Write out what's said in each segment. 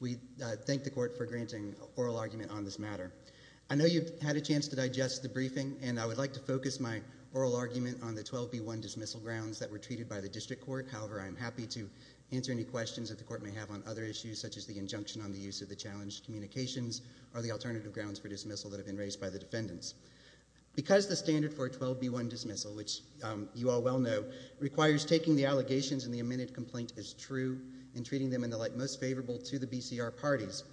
We thank the Court for granting oral argument on this matter. I know you've had a chance to digest the briefing, and I would like to focus my oral argument on the 12B1 dismissal grounds that were treated by the District Court. However, I am happy to answer any questions that the Court may have on other issues, such as the injunction on the use of the challenged communications or the alternative grounds for dismissal that have been raised by the defendants. Because the standard for a 12B1 dismissal, which you all well know, requires taking the allegations in the amended complaint as true and treating them in the light most favorable to the BCR parties.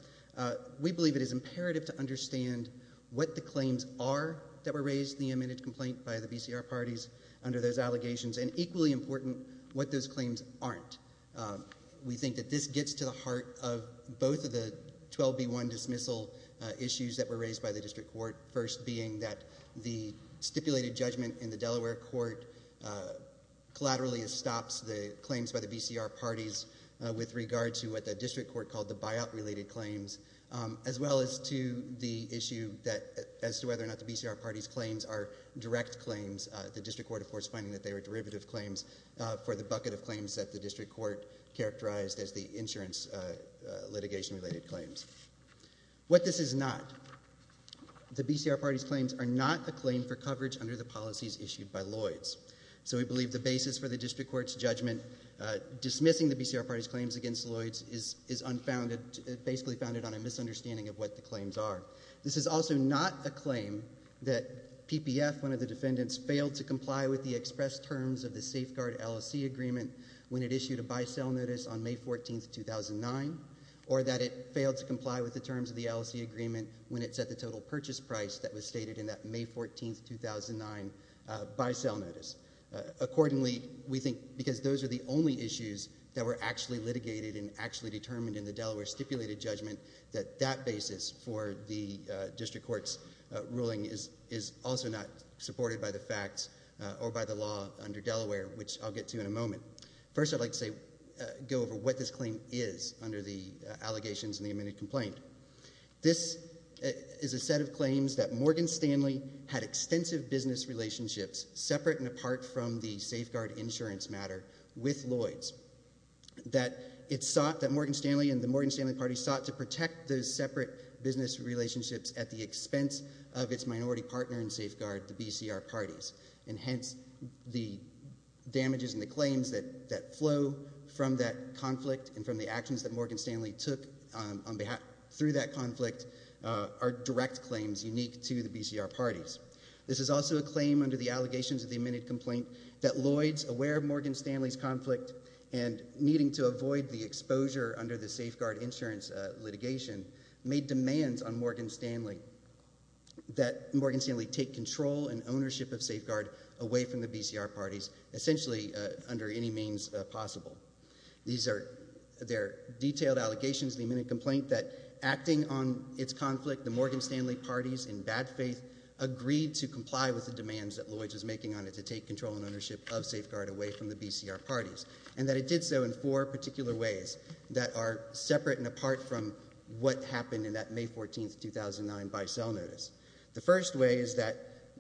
We believe it is imperative to understand what the claims are that were raised in the amended complaint by the BCR parties under those allegations, and equally important, what those claims aren't. We think that this gets to the heart of both of the 12B1 dismissal issues that were raised by the District Court, first being that the stipulated judgment in the Delaware Court collaterally stops the claims by the BCR parties with regard to what the District Court called the buyout-related claims, as well as to the issue as to whether or not the BCR parties' claims are direct claims. The District Court, of course, finding that they were derivative claims for the bucket of claims that the District Court characterized as the insurance litigation-related claims. What this is not, the BCR parties' claims are not a claim for coverage under the policies issued by Lloyds. So we believe the basis for the District Court's judgment dismissing the BCR parties' claims against Lloyds is unfounded, basically founded on a misunderstanding of what the claims are. This is also not a claim that PPF, one of the defendants, failed to comply with the express terms of the safeguard LLC agreement when it issued a buy-sell notice on May 14, 2009, or that it failed to comply with the terms of the LLC agreement when it set the total purchase price that was stated in that May 14, 2009, buy-sell notice. Accordingly, we think because those are the only issues that were actually litigated and actually determined in the Delaware stipulated judgment, that that basis for the District Court's ruling is also not supported by the facts or by the law under Delaware, which I'll get to in a moment. First, I'd like to go over what this claim is under the allegations in the amended complaint. This is a set of claims that Morgan Stanley had extensive business relationships separate and apart from the safeguard insurance matter with Lloyds, that it sought, that Morgan Stanley and the Morgan Stanley party sought to protect those separate business relationships at the expense of its minority partner in safeguard, the BCR parties. And hence, the damages and the claims that flow from that conflict and from the actions that Morgan Stanley took through that conflict are direct claims unique to the BCR parties. This is also a claim under the allegations of the amended complaint that Lloyds, aware of Morgan Stanley's conflict and needing to avoid the exposure under the safeguard insurance litigation, made demands on Morgan Stanley that Morgan Stanley take control and ownership of safeguard away from the BCR parties, essentially under any means possible. These are detailed allegations in the amended complaint that, acting on its conflict, the Morgan Stanley parties, in bad faith, agreed to comply with the demands that Lloyds was making on it to take control and ownership of safeguard away from the BCR parties, and that it did so in four particular ways that are separate and apart from what happened in that May 14, 2009, bisel notice. The first way is that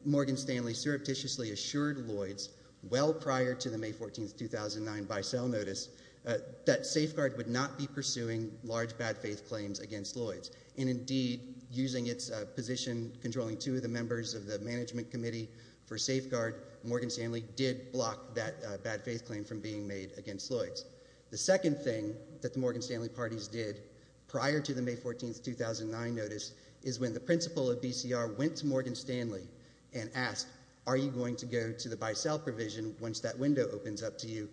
Morgan Stanley surreptitiously assured Lloyds, well prior to the May 14, 2009, bisel notice, that safeguard would not be pursuing large bad faith claims against Lloyds. And indeed, using its position controlling two of the members of the management committee for safeguard, Morgan Stanley did block that bad faith claim from being made against Lloyds. The second thing that the Morgan Stanley parties did prior to the May 14, 2009, notice is when the principal of BCR went to Morgan Stanley and asked, are you going to go to the bisel provision once that window opens up to you,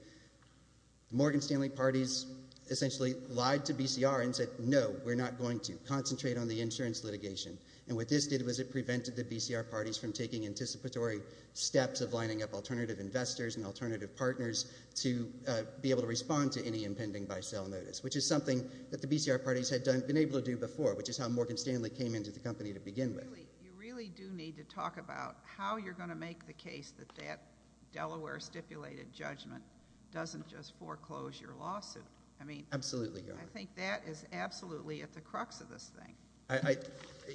Morgan Stanley parties essentially lied to BCR and said, no, we're not going to concentrate on the insurance litigation. And what this did was it prevented the BCR parties from taking anticipatory steps of lining up alternative investors and alternative partners to be able to respond to any impending bisel notice, which is something that the BCR parties had been able to do before, which is how Morgan Stanley came into the company to begin with. You really do need to talk about how you're going to make the case that that Delaware stipulated judgment doesn't just foreclose your lawsuit. Absolutely, Your Honor. I think that is absolutely at the crux of this thing.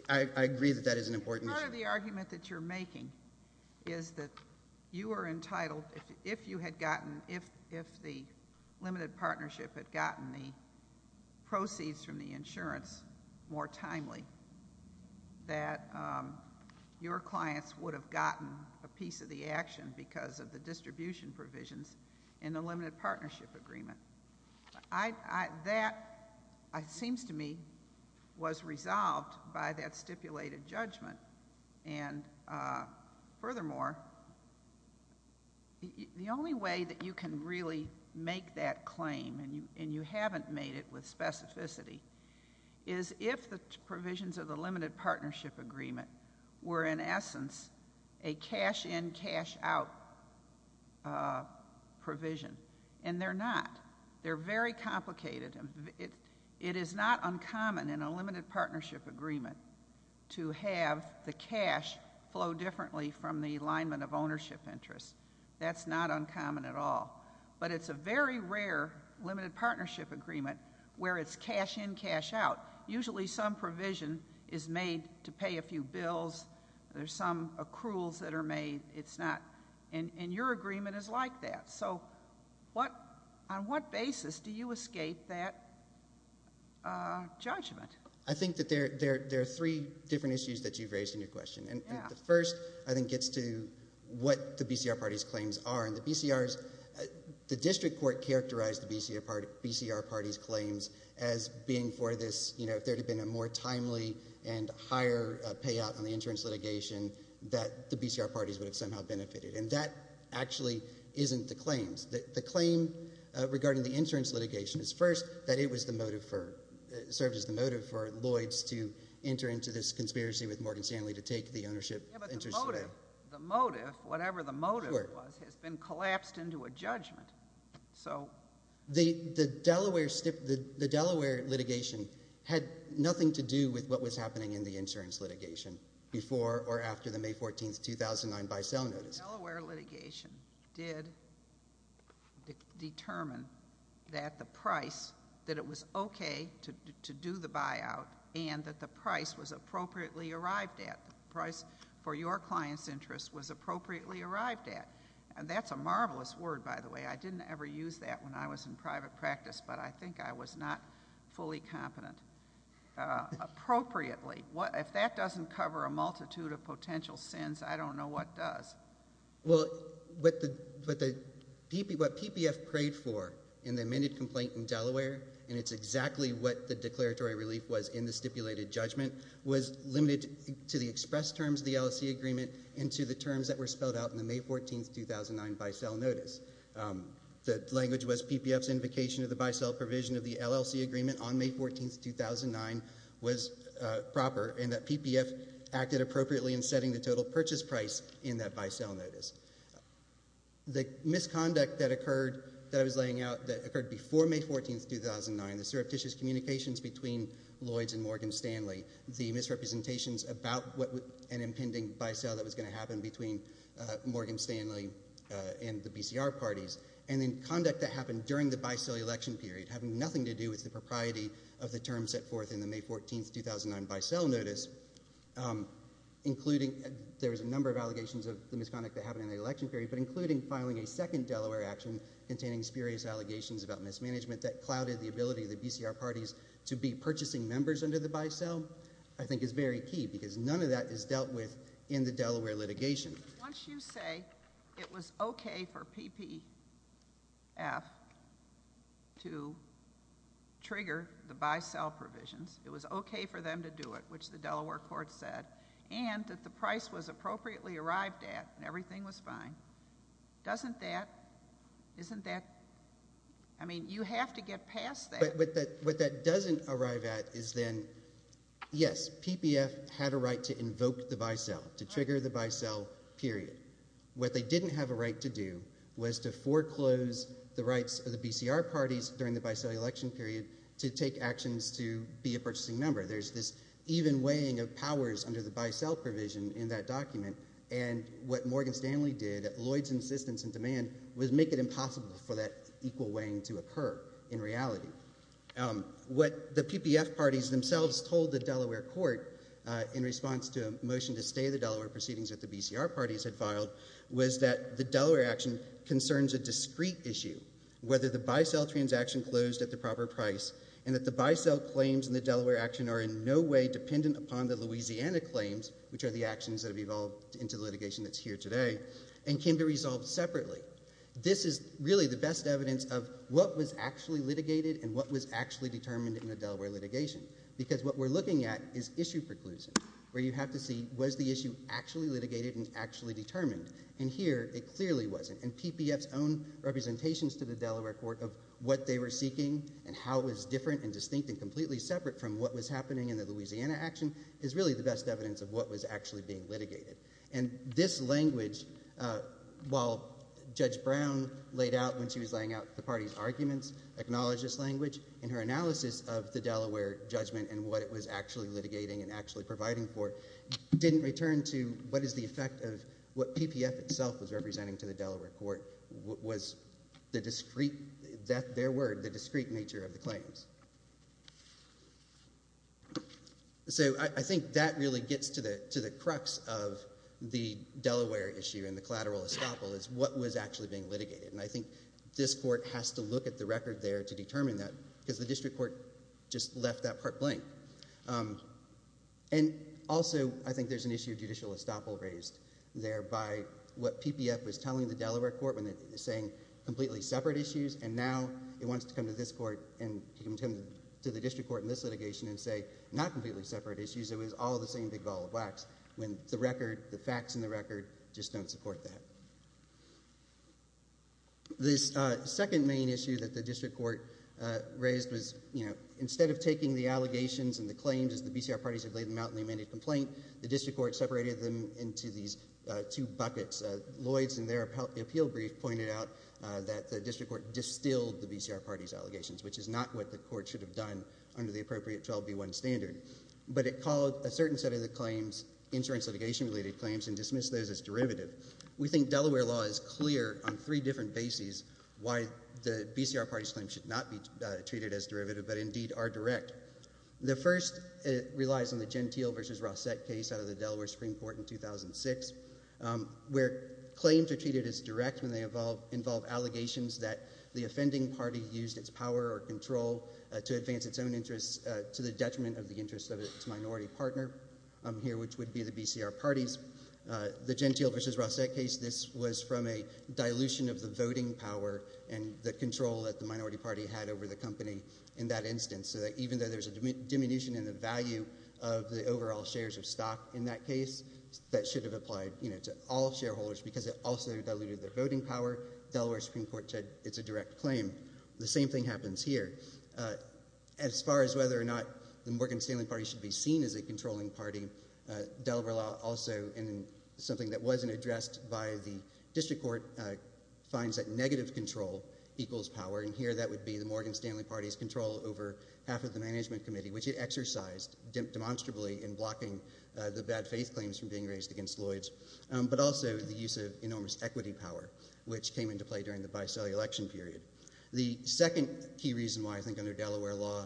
I agree that that is an important issue. Part of the argument that you're making is that you are entitled, if the limited partnership had gotten the proceeds from the insurance more timely, that your clients would have gotten a piece of the action because of the distribution provisions in the limited partnership agreement. That, it seems to me, was resolved by that stipulated judgment. And furthermore, the only way that you can really make that claim, and you haven't made it with specificity, is if the provisions of the limited partnership agreement were, in essence, a cash-in, cash-out provision. And they're not. They're very complicated. It is not uncommon in a limited partnership agreement to have the cash flow differently from the alignment of ownership interests. That's not uncommon at all. But it's a very rare limited partnership agreement where it's cash-in, cash-out. Usually some provision is made to pay a few bills. There are some accruals that are made. And your agreement is like that. So on what basis do you escape that judgment? I think that there are three different issues that you've raised in your question. The first, I think, gets to what the BCR Party's claims are. And the district court characterized the BCR Party's claims as being for this, you know, if there had been a more timely and higher payout on the insurance litigation, that the BCR Parties would have somehow benefited. And that actually isn't the claims. The claim regarding the insurance litigation is, first, that it served as the motive for Lloyds to enter into this conspiracy with Morgan Stanley to take the ownership interests away. The motive, whatever the motive was, has been collapsed into a judgment. So... The Delaware litigation had nothing to do with what was happening in the insurance litigation before or after the May 14, 2009, buy-sell notice. The Delaware litigation did determine that the price, that it was okay to do the buyout and that the price was appropriately arrived at. The price for your client's interest was appropriately arrived at. And that's a marvelous word, by the way. I didn't ever use that when I was in private practice, but I think I was not fully competent. Appropriately. If that doesn't cover a multitude of potential sins, I don't know what does. Well, what PPF prayed for in the amended complaint in Delaware, and it's exactly what the declaratory relief was in the stipulated judgment, was limited to the express terms of the LLC agreement and to the terms that were spelled out in the May 14, 2009, buy-sell notice. The language was PPF's invocation of the buy-sell provision of the LLC agreement on May 14, 2009 was proper and that PPF acted appropriately in setting the total purchase price in that buy-sell notice. The misconduct that occurred, that I was laying out, that occurred before May 14, 2009, the surreptitious communications between Lloyds and Morgan Stanley, the misrepresentations about an impending buy-sell that was going to happen between Morgan Stanley and the BCR parties, and then conduct that happened during the buy-sell election period having nothing to do with the propriety of the terms set forth in the May 14, 2009 buy-sell notice, including there was a number of allegations of the misconduct that happened in the election period, but including filing a second Delaware action containing spurious allegations about mismanagement that clouded the ability of the BCR parties to be purchasing members under the buy-sell, I think is very key because none of that is dealt with in the Delaware litigation. Once you say it was okay for PPF to trigger the buy-sell provisions, it was okay for them to do it, which the Delaware court said, and that the price was appropriately arrived at and everything was fine, doesn't that, isn't that, I mean you have to get past that. But what that doesn't arrive at is then, yes, PPF had a right to invoke the buy-sell, to trigger the buy-sell period. What they didn't have a right to do was to foreclose the rights of the BCR parties during the buy-sell election period to take actions to be a purchasing member. There's this even weighing of powers under the buy-sell provision in that document, and what Morgan Stanley did at Lloyd's insistence and demand was make it impossible for that equal weighing to occur in reality. What the PPF parties themselves told the Delaware court in response to a motion to stay the Delaware proceedings that the BCR parties had filed was that the Delaware action concerns a discrete issue, whether the buy-sell transaction closed at the proper price and that the buy-sell claims in the Delaware action are in no way dependent upon the Louisiana claims, which are the actions that have evolved into litigation that's here today, and can be resolved separately. This is really the best evidence of what was actually litigated and what was actually determined in the Delaware litigation, because what we're looking at is issue preclusion, where you have to see was the issue actually litigated and actually determined, and here it clearly wasn't. And PPF's own representations to the Delaware court of what they were seeking and how it was different and distinct and completely separate from what was happening in the Louisiana action is really the best evidence of what was actually being litigated. And this language, while Judge Brown laid out when she was laying out the party's arguments, acknowledged this language in her analysis of the Delaware judgment and what it was actually litigating and actually providing for, didn't return to what is the effect of what PPF itself was representing to the Delaware court, was the discrete, their word, the discrete nature of the claims. So I think that really gets to the crux of the Delaware issue and the collateral estoppel is what was actually being litigated, and I think this court has to look at the record there to determine that, because the district court just left that part blank. And also I think there's an issue of judicial estoppel raised there by what PPF was telling the Delaware court when it was saying completely separate issues, and now it wants to come to this court and to the district court in this litigation and say not completely separate issues, it was all the same big ball of wax, when the record, the facts in the record, just don't support that. This second main issue that the district court raised was, you know, instead of taking the allegations and the claims as the BCR parties had laid them out in the amended complaint, the district court separated them into these two buckets. Lloyd's in their appeal brief pointed out that the district court distilled the BCR parties' allegations, which is not what the court should have done under the appropriate 12B1 standard. But it called a certain set of the claims insurance litigation-related claims and dismissed those as derivative. We think Delaware law is clear on three different bases why the BCR parties' claims should not be treated as derivative, but indeed are direct. The first relies on the Gentile v. Rossette case out of the Delaware Supreme Court in 2006, where claims are treated as direct when they involve allegations that the offending party used its power or control to advance its own interests to the detriment of the interests of its minority partner here, which would be the BCR parties. The Gentile v. Rossette case, this was from a dilution of the voting power and the control that the minority party had over the company in that instance, so that even though there's a diminution in the value of the overall shares of stock in that case, that should have applied to all shareholders because it also diluted their voting power. Delaware Supreme Court said it's a direct claim. The same thing happens here. As far as whether or not the Morgan Stanley Party should be seen as a controlling party, Delaware law also, in something that wasn't addressed by the district court, finds that negative control equals power, and here that would be the Morgan Stanley Party's control over half of the management committee, which it exercised demonstrably in blocking the bad faith claims from being raised against Lloyd's, but also the use of enormous equity power, which came into play during the by-sale election period. The second key reason why I think under Delaware law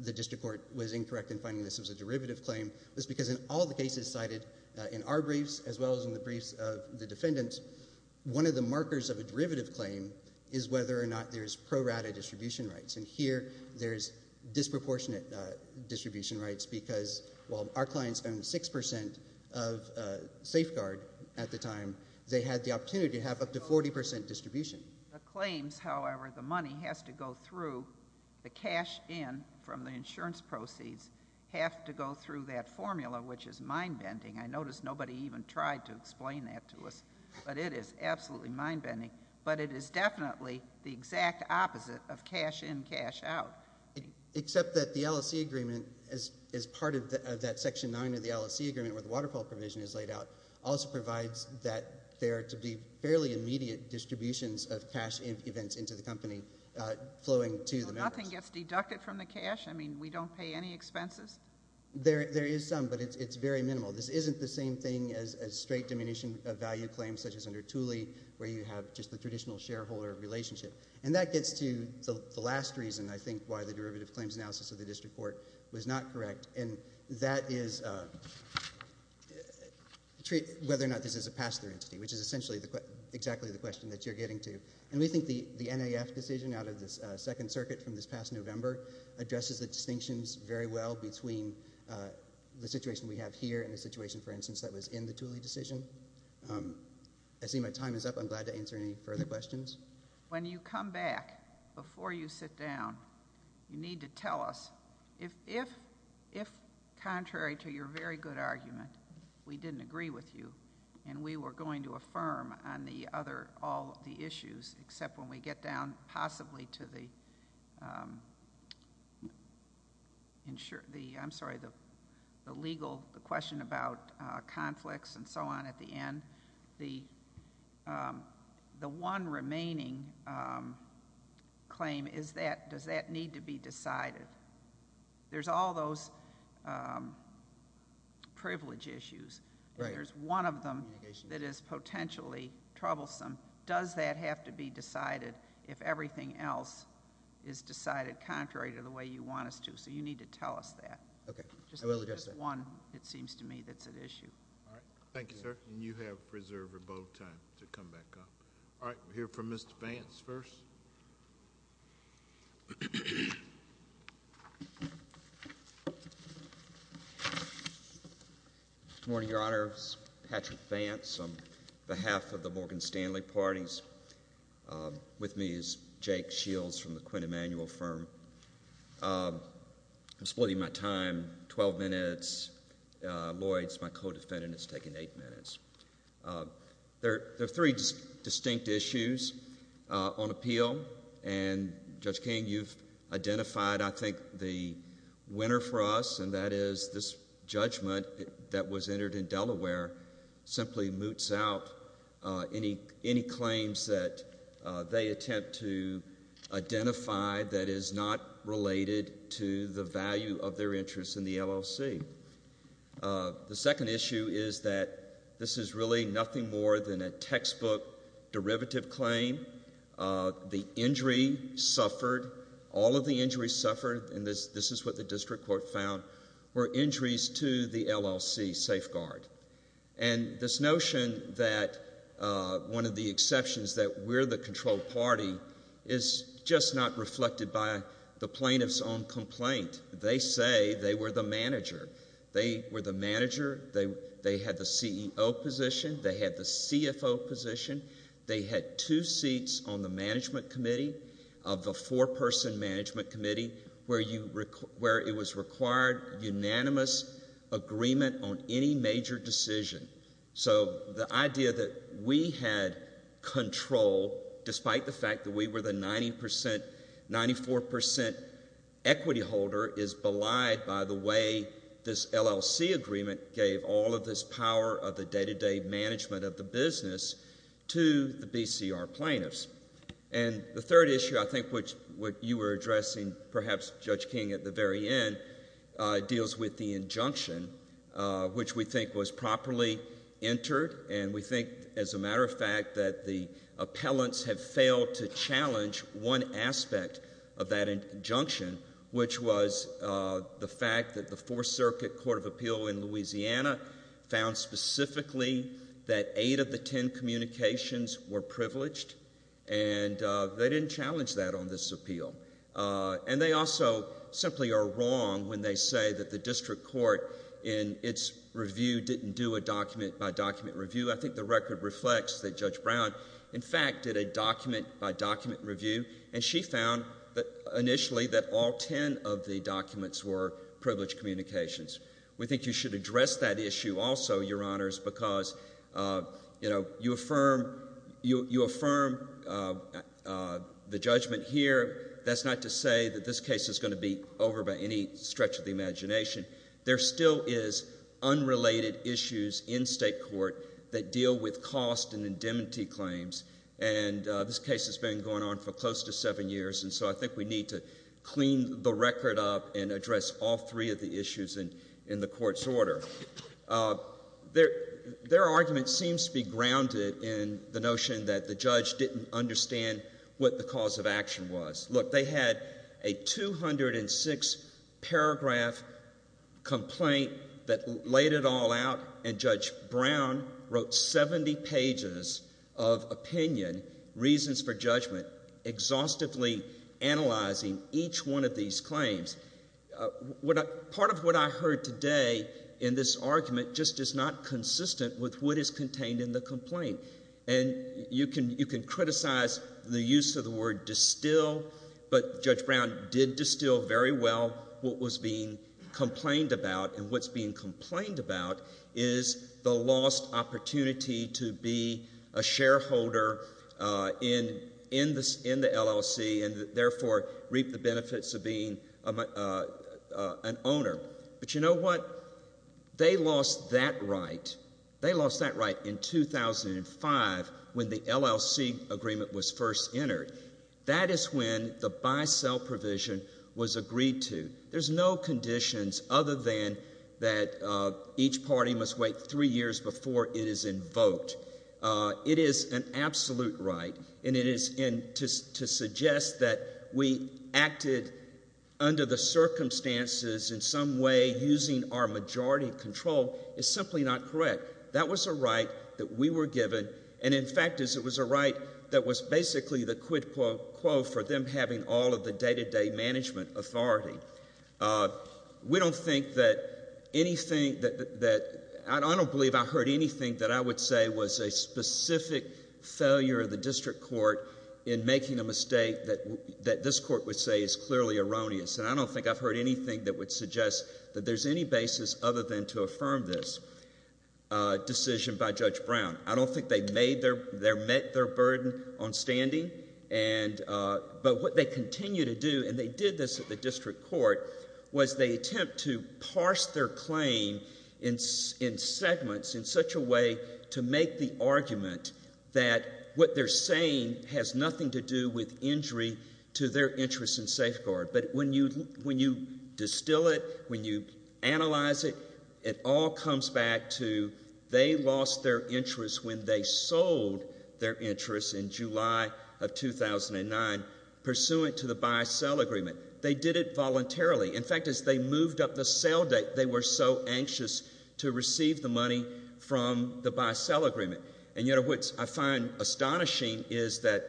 the district court was incorrect in finding this was a derivative claim was because in all the cases cited in our briefs, as well as in the briefs of the defendants, one of the markers of a derivative claim is whether or not there's pro-rata distribution rights, and here there's disproportionate distribution rights because, while our clients owned 6% of Safeguard at the time, they had the opportunity to have up to 40% distribution. The claims, however, the money has to go through, the cash in from the insurance proceeds have to go through that formula, which is mind-bending. I notice nobody even tried to explain that to us, but it is absolutely mind-bending, but it is definitely the exact opposite of cash in, cash out. Except that the LSE agreement, as part of that Section 9 of the LSE agreement where the waterfall provision is laid out, also provides that there are to be fairly immediate distributions of cash events into the company flowing to the members. So nothing gets deducted from the cash? I mean, we don't pay any expenses? There is some, but it's very minimal. This isn't the same thing as straight diminution of value claims, such as under Thule where you have just the traditional shareholder relationship. And that gets to the last reason, I think, why the derivative claims analysis of the district court was not correct, and that is whether or not this is a pass-through entity, which is essentially exactly the question that you're getting to. And we think the NAF decision out of the Second Circuit from this past November addresses the distinctions very well between the situation we have here and the situation, for instance, that was in the Thule decision. I see my time is up. I'm glad to answer any further questions. When you come back before you sit down, you need to tell us if, contrary to your very good argument, we didn't agree with you and we were going to affirm on the other, all the issues, except when we get down possibly to the, I'm sorry, the legal question about conflicts and so on at the end. The one remaining claim is that does that need to be decided? There's all those privilege issues. There's one of them that is potentially troublesome. Does that have to be decided if everything else is decided contrary to the way you want us to? So you need to tell us that. Okay. I will address that. Just one, it seems to me, that's at issue. All right. Thank you, sir. And you have reserved about time to come back up. All right. We'll hear from Mr. Vance first. Good morning, Your Honors. Patrick Vance on behalf of the Morgan Stanley parties. With me is Jake Shields from the Quinn Emanuel firm. I'm splitting my time, 12 minutes. Lloyd's my co-defendant. It's taken eight minutes. There are three distinct issues on appeal. And, Judge King, you've identified, I think, the winner for us, and that is this judgment that was entered in Delaware simply moots out any claims that they attempt to identify that is not related to the value of their interest in the LLC. The second issue is that this is really nothing more than a textbook derivative claim. The injury suffered. All of the injuries suffered. And this is what the district court found, were injuries to the LLC safeguard. And this notion that one of the exceptions, that we're the control party, is just not reflected by the plaintiff's own complaint. They say they were the manager. They were the manager. They had the CEO position. They had the CFO position. They had two seats on the management committee of the four-person management committee where it was required unanimous agreement on any major decision. So the idea that we had control, despite the fact that we were the 94% equity holder, is belied by the way this LLC agreement gave all of this power of the day-to-day management of the business to the BCR plaintiffs. And the third issue, I think, which you were addressing, perhaps, Judge King, at the very end, deals with the injunction which we think was properly entered, and we think, as a matter of fact, that the appellants have failed to challenge one aspect of that injunction, which was the fact that the Fourth Circuit Court of Appeal in Louisiana found specifically that eight of the ten communications were privileged, and they didn't challenge that on this appeal. And they also simply are wrong when they say that the district court, in its review, didn't do a document-by-document review. I think the record reflects that Judge Brown, in fact, did a document-by-document review, and she found initially that all ten of the documents were privileged communications. We think you should address that issue also, Your Honors, because, you know, you affirm the judgment here. That's not to say that this case is going to be over by any stretch of the imagination. There still is unrelated issues in state court that deal with cost and indemnity claims, and this case has been going on for close to seven years, and so I think we need to clean the record up and address all three of the issues in the court's order. Their argument seems to be grounded in the notion that the judge didn't understand what the cause of action was. Look, they had a 206-paragraph complaint that laid it all out, and Judge Brown wrote 70 pages of opinion, reasons for judgment, exhaustively analyzing each one of these claims. Part of what I heard today in this argument just is not consistent with what is contained in the complaint, and you can criticize the use of the word distill, but Judge Brown did distill very well what was being complained about, and what's being complained about is the lost opportunity to be a shareholder in the LLC and therefore reap the benefits of being an owner. But you know what? They lost that right. They lost that right in 2005 when the LLC agreement was first entered. That is when the buy-sell provision was agreed to. There's no conditions other than that each party must wait three years before it is invoked. It is an absolute right, and to suggest that we acted under the circumstances in some way using our majority control is simply not correct. That was a right that we were given, and in fact it was a right that was basically the quid pro quo for them having all of the day-to-day management authority. We don't think that anything that—I don't believe I heard anything that I would say was a specific failure of the district court in making a mistake that this court would say is clearly erroneous, and I don't think I've heard anything that would suggest that there's any basis other than to affirm this decision by Judge Brown. I don't think they met their burden on standing, but what they continue to do, and they did this at the district court, was they attempt to parse their claim in segments in such a way to make the argument that what they're saying has nothing to do with injury to their interest in safeguard. But when you distill it, when you analyze it, it all comes back to they lost their interest when they sold their interest in July of 2009 pursuant to the buy-sell agreement. They did it voluntarily. In fact, as they moved up the sale date, they were so anxious to receive the money from the buy-sell agreement. And, you know, what I find astonishing is that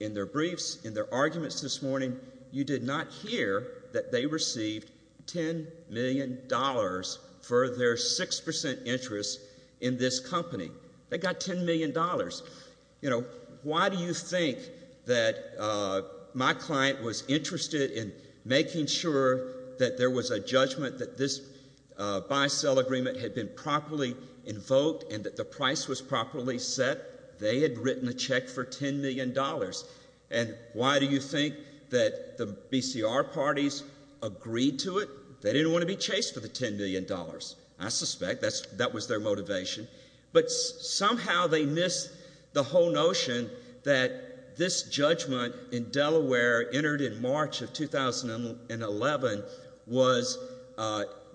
in their briefs, in their arguments this morning, you did not hear that they received $10 million for their 6 percent interest in this company. They got $10 million. You know, why do you think that my client was interested in making sure that there was a judgment that this buy-sell agreement had been properly invoked and that the price was properly set? They had written a check for $10 million. And why do you think that the BCR parties agreed to it? They didn't want to be chased for the $10 million. I suspect that was their motivation. But somehow they missed the whole notion that this judgment in Delaware entered in March of 2011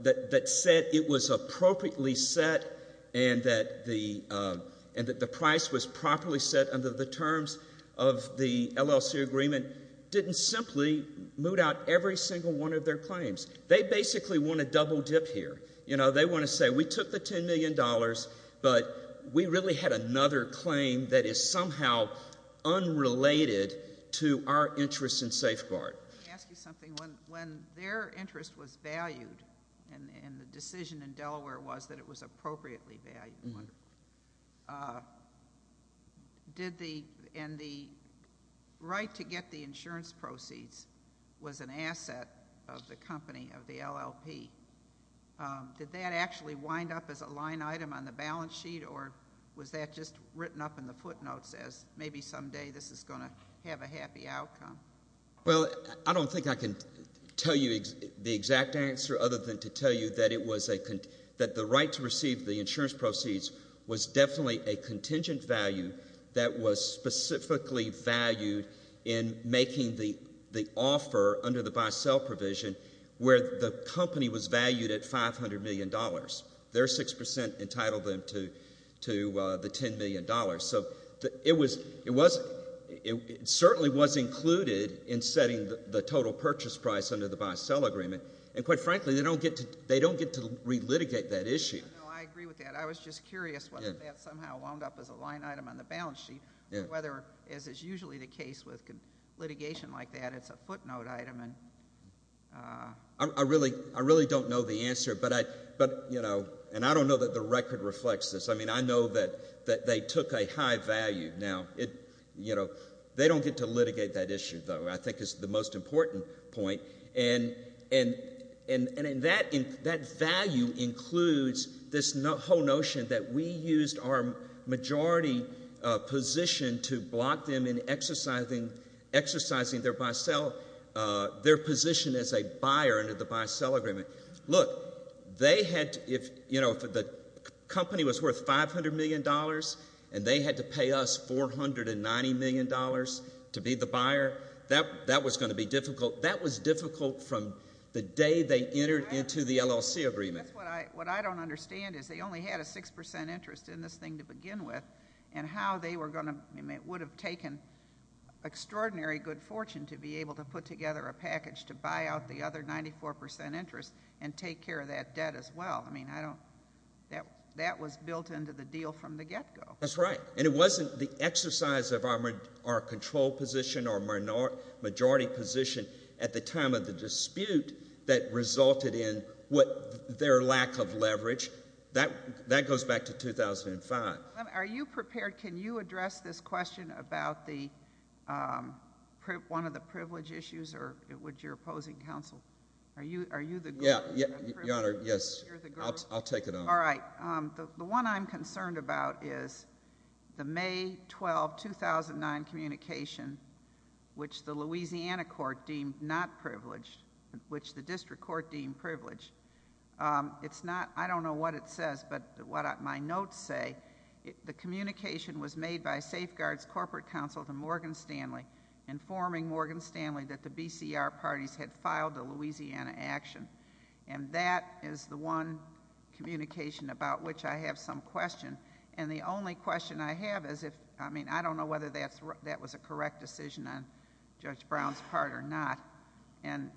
that said it was appropriately set and that the price was properly set under the terms of the LLC agreement didn't simply moot out every single one of their claims. They basically want to double-dip here. You know, they want to say we took the $10 million, but we really had another claim that is somehow unrelated to our interest in safeguard. Let me ask you something. When their interest was valued and the decision in Delaware was that it was appropriately valued, and the right to get the insurance proceeds was an asset of the company, of the LLP, did that actually wind up as a line item on the balance sheet, or was that just written up in the footnotes as maybe someday this is going to have a happy outcome? Well, I don't think I can tell you the exact answer other than to tell you that the right to receive the insurance proceeds was definitely a contingent value that was specifically valued in making the offer under the buy-sell provision where the company was valued at $500 million. Their 6% entitled them to the $10 million. So it certainly was included in setting the total purchase price under the buy-sell agreement, and quite frankly, they don't get to relitigate that issue. I agree with that. I was just curious whether that somehow wound up as a line item on the balance sheet or whether, as is usually the case with litigation like that, it's a footnote item. I really don't know the answer, and I don't know that the record reflects this. I mean, I know that they took a high value. Now, they don't get to litigate that issue, though, I think is the most important point. And that value includes this whole notion that we used our majority position to block them in exercising their position as a buyer under the buy-sell agreement. Look, if the company was worth $500 million and they had to pay us $490 million to be the buyer, that was going to be difficult. That was difficult from the day they entered into the LLC agreement. What I don't understand is they only had a 6% interest in this thing to begin with, and how they would have taken extraordinary good fortune to be able to put together a package to buy out the other 94% interest and take care of that debt as well. I mean, that was built into the deal from the get-go. That's right. And it wasn't the exercise of our control position or majority position at the time of the dispute that resulted in their lack of leverage. That goes back to 2005. Are you prepared? Can you address this question about one of the privilege issues with your opposing counsel? Are you the group? Your Honor, yes. I'll take it on. All right. The one I'm concerned about is the May 12, 2009 communication, which the Louisiana court deemed not privileged, which the district court deemed privileged. I don't know what it says, but what my notes say, the communication was made by Safeguard's corporate counsel to Morgan Stanley, informing Morgan Stanley that the BCR parties had filed the Louisiana action. And that is the one communication about which I have some question. And the only question I have is if, I mean, I don't know whether that was a correct decision on Judge Brown's part or not. And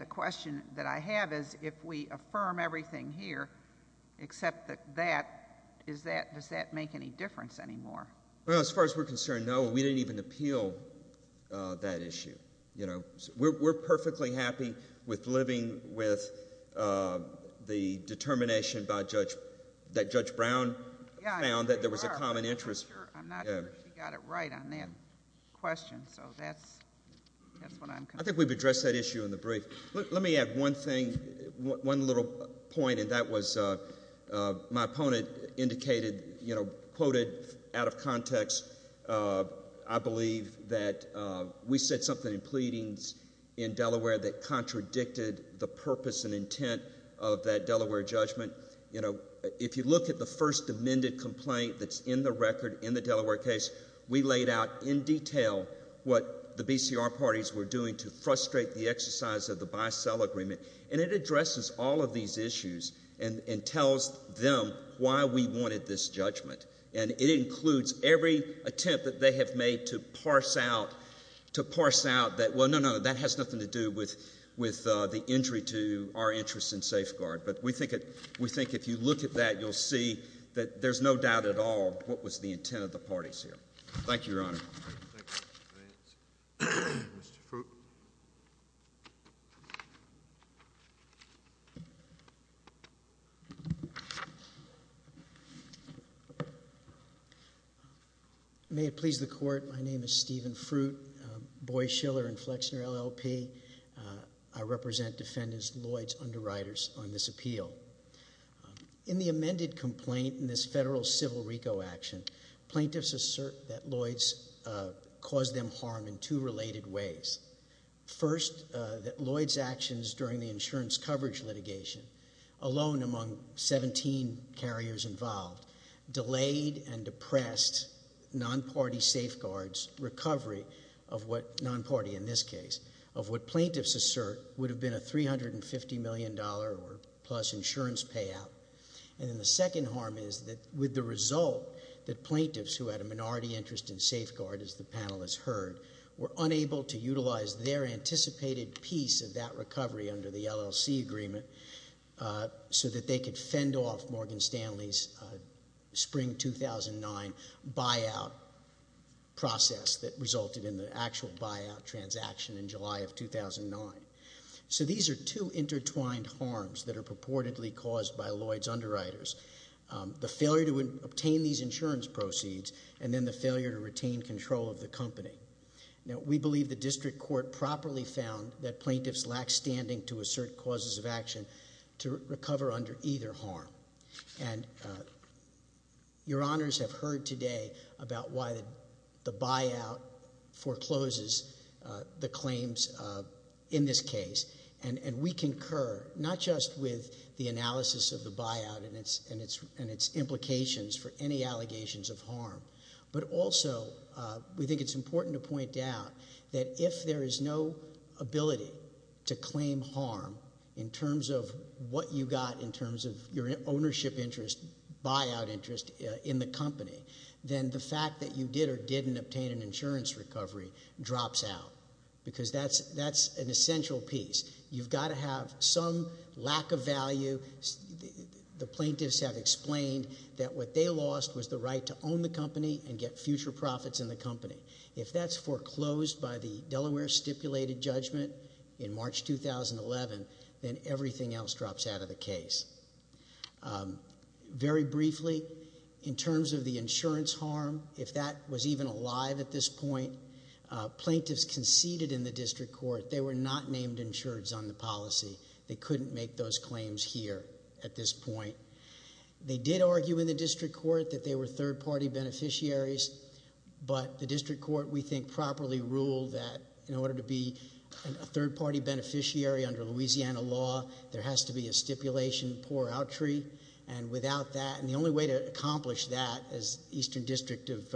the question that I have is if we affirm everything here, except that that, does that make any difference anymore? As far as we're concerned, no. We didn't even appeal that issue. We're perfectly happy with living with the determination by Judge, that Judge Brown found that there was a common interest. I'm not sure she got it right on that question, so that's what I'm concerned about. I think we've addressed that issue in the brief. Let me add one thing, one little point, and that was my opponent indicated, you know, quoted out of context, I believe, that we said something in pleadings in Delaware that contradicted the purpose and intent of that Delaware judgment. You know, if you look at the first amended complaint that's in the record, in the Delaware case, we laid out in detail what the BCR parties were doing to frustrate the exercise of the bisell agreement. And it addresses all of these issues and tells them why we wanted this judgment. And it includes every attempt that they have made to parse out that, well, no, no, that has nothing to do with the injury to our interest in safeguard. But we think if you look at that, you'll see that there's no doubt at all what was the intent of the parties here. Thank you, Your Honor. Thank you. Mr. Fruitt. May it please the Court, my name is Stephen Fruitt, Boy Schiller and Flexner, LLP. I represent Defendants Lloyd's Underwriters on this appeal. In the amended complaint in this federal civil RICO action, plaintiffs assert that Lloyd's caused them harm in two related ways. First, that Lloyd's actions during the insurance coverage litigation, alone among 17 carriers involved, delayed and depressed non-party safeguards recovery of what, non-party in this case, of what plaintiffs assert would have been a $350 million or plus insurance payout. And then the second harm is that with the result that plaintiffs who had a minority interest in safeguard, as the panel has heard, were unable to utilize their anticipated piece of that recovery under the LLC agreement so that they could fend off Morgan Stanley's spring 2009 buyout process that resulted in the actual buyout transaction in July of 2009. So these are two intertwined harms that are purportedly caused by Lloyd's Underwriters. The failure to obtain these insurance proceeds and then the failure to retain control of the company. Now, we believe the district court properly found that plaintiffs lack standing to assert causes of action to recover under either harm. And your honors have heard today about why the buyout forecloses the claims in this case. And we concur not just with the analysis of the buyout and its implications for any allegations of harm, but also we think it's important to point out that if there is no ability to claim harm in terms of what you got in terms of your ownership interest, buyout interest in the company, then the fact that you did or didn't obtain an insurance recovery drops out. Because that's an essential piece. You've got to have some lack of value. The plaintiffs have explained that what they lost was the right to own the company and get future profits in the company. If that's foreclosed by the Delaware stipulated judgment in March 2011, then everything else drops out of the case. Very briefly, in terms of the insurance harm, if that was even alive at this point, plaintiffs conceded in the district court. They were not named insureds on the policy. They couldn't make those claims here at this point. They did argue in the district court that they were third-party beneficiaries, but the district court, we think, properly ruled that in order to be a third-party beneficiary under Louisiana law, there has to be a stipulation pour out tree. And without that, and the only way to accomplish that as Eastern District of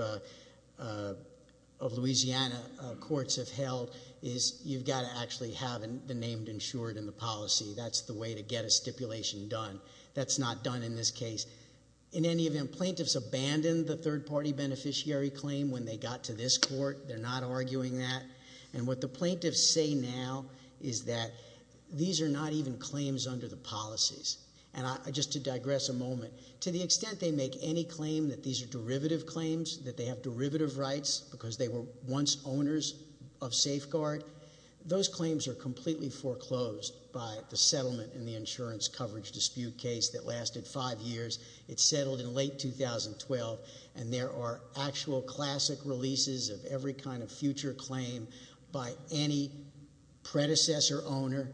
Louisiana courts have held, is you've got to actually have the named insured in the policy. That's the way to get a stipulation done. That's not done in this case. In any event, plaintiffs abandoned the third-party beneficiary claim when they got to this court. They're not arguing that. And what the plaintiffs say now is that these are not even claims under the policies. And just to digress a moment, to the extent they make any claim that these are derivative claims, that they have derivative rights because they were once owners of safeguard, those claims are completely foreclosed by the settlement in the insurance coverage dispute case that lasted five years. It settled in late 2012, and there are actual classic releases of every kind of future claim by any predecessor owner.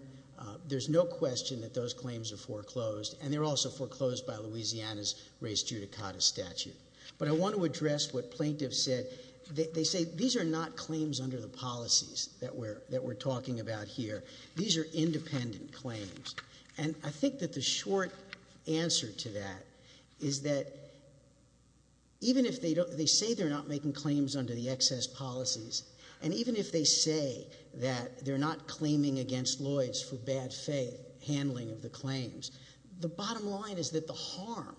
There's no question that those claims are foreclosed, and they're also foreclosed by Louisiana's race judicata statute. But I want to address what plaintiffs said. They say these are not claims under the policies that we're talking about here. These are independent claims. And I think that the short answer to that is that even if they say they're not making claims under the excess policies, and even if they say that they're not claiming against Lloyds for bad faith handling of the claims, the bottom line is that the harm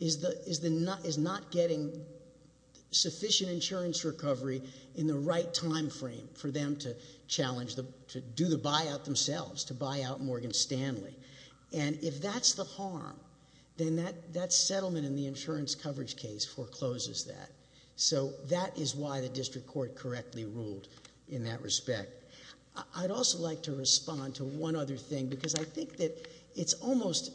is not getting sufficient insurance recovery in the right time frame for them to do the buyout themselves, to buy out Morgan Stanley. And if that's the harm, then that settlement in the insurance coverage case forecloses that. So that is why the district court correctly ruled in that respect. I'd also like to respond to one other thing, because I think that it almost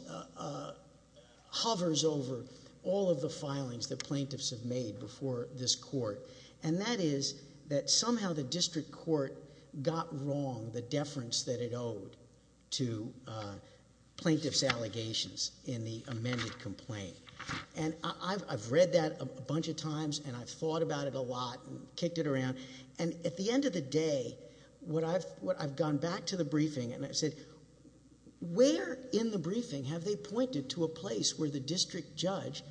hovers over all of the filings that plaintiffs have made before this court, and that is that somehow the district court got wrong the deference that it owed to plaintiffs' allegations in the amended complaint. And I've read that a bunch of times, and I've thought about it a lot, and kicked it around. And at the end of the day, I've gone back to the briefing, and I've said, where in the briefing have they pointed to a place where the district judge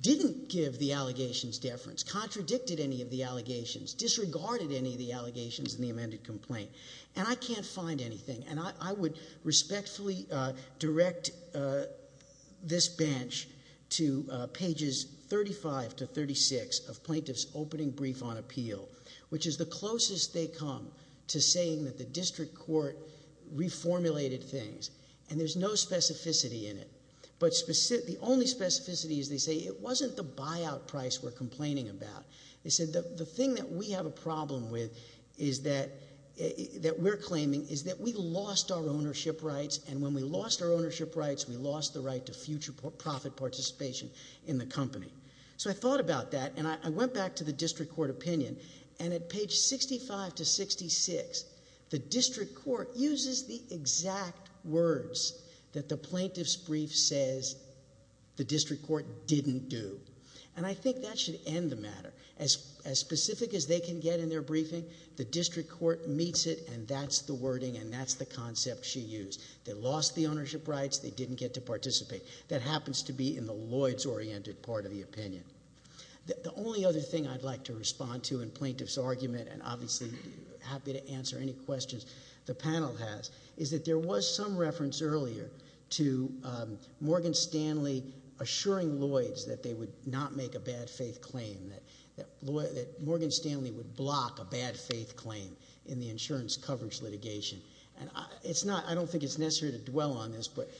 didn't give the allegations deference, contradicted any of the allegations, disregarded any of the allegations in the amended complaint? And I can't find anything. And I would respectfully direct this bench to pages 35 to 36 of plaintiffs' opening brief on appeal, which is the closest they come to saying that the district court reformulated things. And there's no specificity in it. But the only specificity is they say, it wasn't the buyout price we're complaining about. They said, the thing that we have a problem with, that we're claiming, is that we lost our ownership rights, and when we lost our ownership rights, we lost the right to future profit participation in the company. So I thought about that, and I went back to the district court opinion, and at page 65 to 66, the district court uses the exact words that the plaintiff's brief says the district court didn't do. And I think that should end the matter. As specific as they can get in their briefing, the district court meets it, and that's the wording, and that's the concept she used. They lost the ownership rights. They didn't get to participate. That happens to be in the Lloyds-oriented part of the opinion. The only other thing I'd like to respond to in plaintiff's argument, and obviously happy to answer any questions the panel has, is that there was some reference earlier to Morgan Stanley assuring Lloyds that they would not make a bad faith claim, that Morgan Stanley would block a bad faith claim in the insurance coverage litigation. I don't think it's necessary to dwell on this, but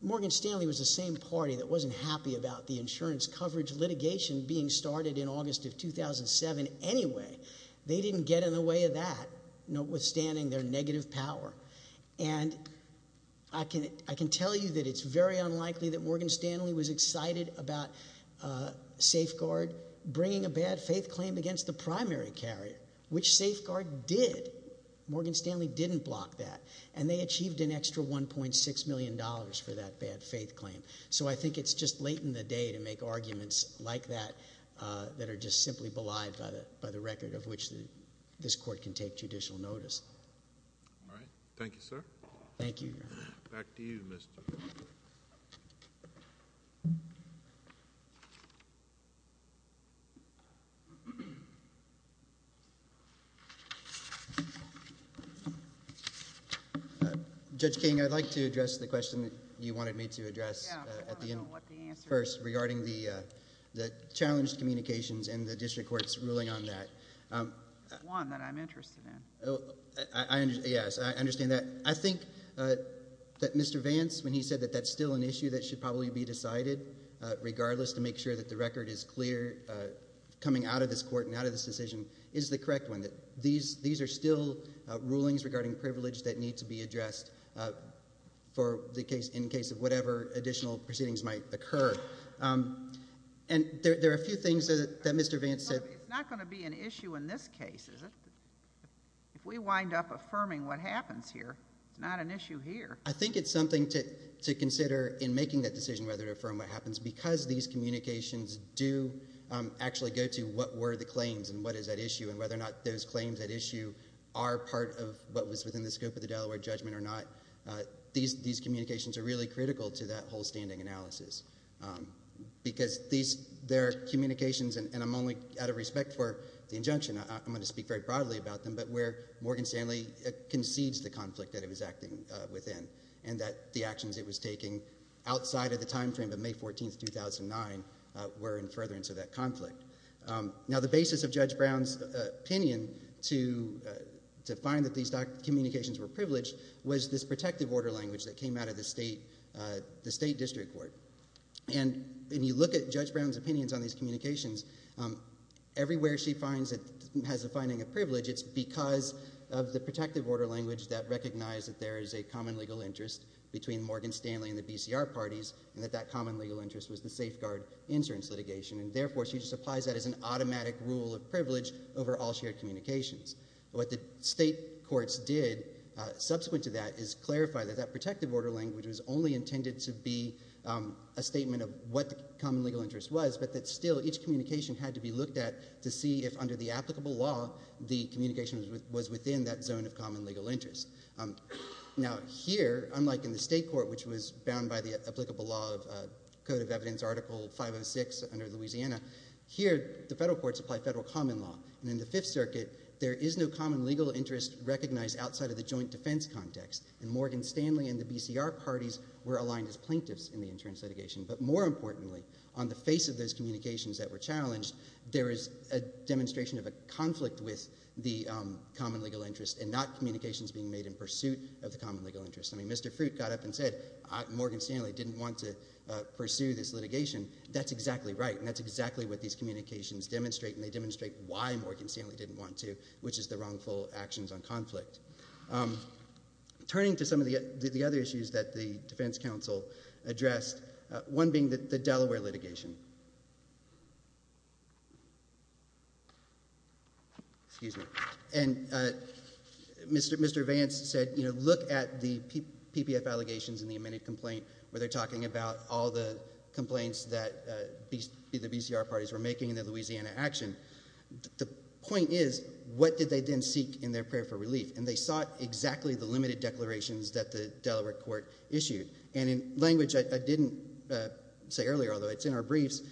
Morgan Stanley was the same party that wasn't happy about the insurance coverage litigation being started in August of 2007 anyway. They didn't get in the way of that, notwithstanding their negative power. And I can tell you that it's very unlikely that Morgan Stanley was excited about safeguard bringing a bad faith claim against the primary carrier, which safeguard did. Morgan Stanley didn't block that, and they achieved an extra $1.6 million for that bad faith claim. So I think it's just late in the day to make arguments like that that are just simply belied by the record of which this court can take judicial notice. All right. Thank you, sir. Thank you. Back to you, Mr. King. Judge King, I'd like to address the question that you wanted me to address at the end first regarding the challenged communications in the district court's ruling on that. It's one that I'm interested in. Yes, I understand that. I think that Mr. Vance, when he said that that's still an issue that should probably be decided, regardless to make sure that the record is clear coming out of this court and out of this decision is the correct one, that these are still rulings regarding privilege that need to be addressed in case of whatever additional proceedings might occur. And there are a few things that Mr. Vance said. It's not going to be an issue in this case, is it? If we wind up affirming what happens here, it's not an issue here. I think it's something to consider in making that decision whether to affirm what happens because these communications do actually go to what were the claims and what is at issue and whether or not those claims at issue are part of what was within the scope of the Delaware judgment or not. These communications are really critical to that whole standing analysis because they're communications, and I'm only out of respect for the injunction. I'm going to speak very broadly about them, but where Morgan Stanley concedes the conflict that it was acting within and that the actions it was taking outside of the time frame of May 14, 2009 were in furtherance of that conflict. Now, the basis of Judge Brown's opinion to find that these communications were privileged was this protective order language that came out of the state district court. And when you look at Judge Brown's opinions on these communications, everywhere she has a finding of privilege, it's because of the protective order language that recognized that there is a common legal interest between Morgan Stanley and the BCR parties and that that common legal interest was the safeguard insurance litigation, and therefore she just applies that as an automatic rule of privilege over all shared communications. What the state courts did subsequent to that is clarify that that protective order language was only intended to be a statement of what the common legal interest was, but that still each communication had to be looked at to see if under the applicable law the communication was within that zone of common legal interest. Now here, unlike in the state court, which was bound by the applicable law of Code of Evidence Article 506 under Louisiana, here the federal courts apply federal common law. And in the Fifth Circuit, there is no common legal interest recognized outside of the joint defense context, and Morgan Stanley and the BCR parties were aligned as plaintiffs in the insurance litigation. But more importantly, on the face of those communications that were challenged, there is a demonstration of a conflict with the common legal interest and not communications being made in pursuit of the common legal interest. I mean, Mr. Fruit got up and said, Morgan Stanley didn't want to pursue this litigation. That's exactly right, and that's exactly what these communications demonstrate, and they demonstrate why Morgan Stanley didn't want to, which is the wrongful actions on conflict. Turning to some of the other issues that the defense counsel addressed, one being the Delaware litigation. And Mr. Vance said, you know, look at the PPF allegations in the amended complaint where they're talking about all the complaints that the BCR parties were making in the Louisiana action. The point is, what did they then seek in their prayer for relief? And they sought exactly the limited declarations that the Delaware court issued. And in language I didn't say earlier, although it's in our briefs,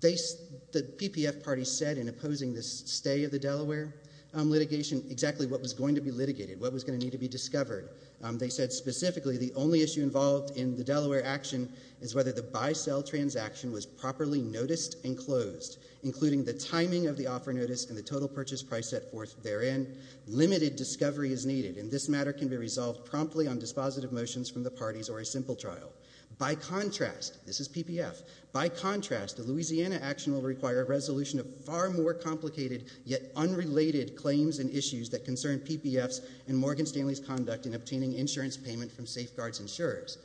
the PPF parties said in opposing the stay of the Delaware litigation exactly what was going to be litigated, what was going to need to be discovered. They said specifically the only issue involved in the Delaware action is whether the buy-sell transaction was properly noticed and closed, including the timing of the offer notice and the total purchase price set forth therein. Limited discovery is needed, and this matter can be resolved promptly on dispositive motions from the parties or a simple trial. By contrast, this is PPF, by contrast, the Louisiana action will require a resolution of far more complicated yet unrelated claims and issues that concern PPFs and Morgan Stanley's conduct in obtaining insurance payment from safeguards insurers.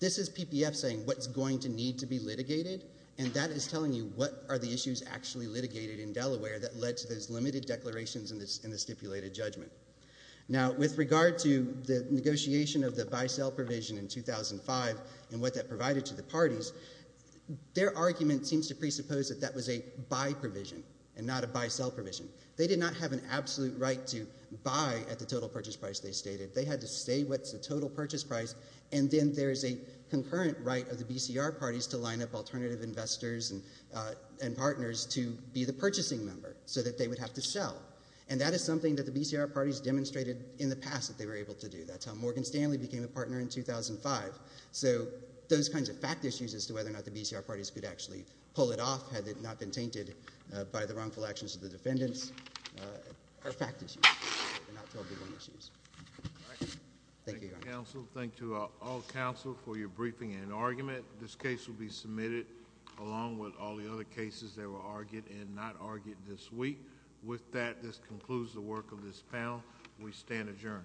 This is PPF saying what's going to need to be litigated, and that is telling you what are the issues actually litigated in Delaware that led to those limited declarations in the stipulated judgment. Now, with regard to the negotiation of the buy-sell provision in 2005 and what that provided to the parties, their argument seems to presuppose that that was a buy provision and not a buy-sell provision. They did not have an absolute right to buy at the total purchase price they stated. They had to say what's the total purchase price, and then there is a concurrent right of the BCR parties to line up alternative investors and partners to be the purchasing member so that they would have to sell, and that is something that the BCR parties demonstrated in the past that they were able to do. That's how Morgan Stanley became a partner in 2005. So those kinds of fact issues as to whether or not the BCR parties could actually pull it off had it not been tainted by the wrongful actions of the defendants are fact issues. They're not totally wrong issues. Thank you, Your Honor. Thank you, counsel. Thank you, all counsel, for your briefing and argument. This case will be submitted along with all the other cases that were argued and not argued this week. With that, this concludes the work of this panel. We stand adjourned.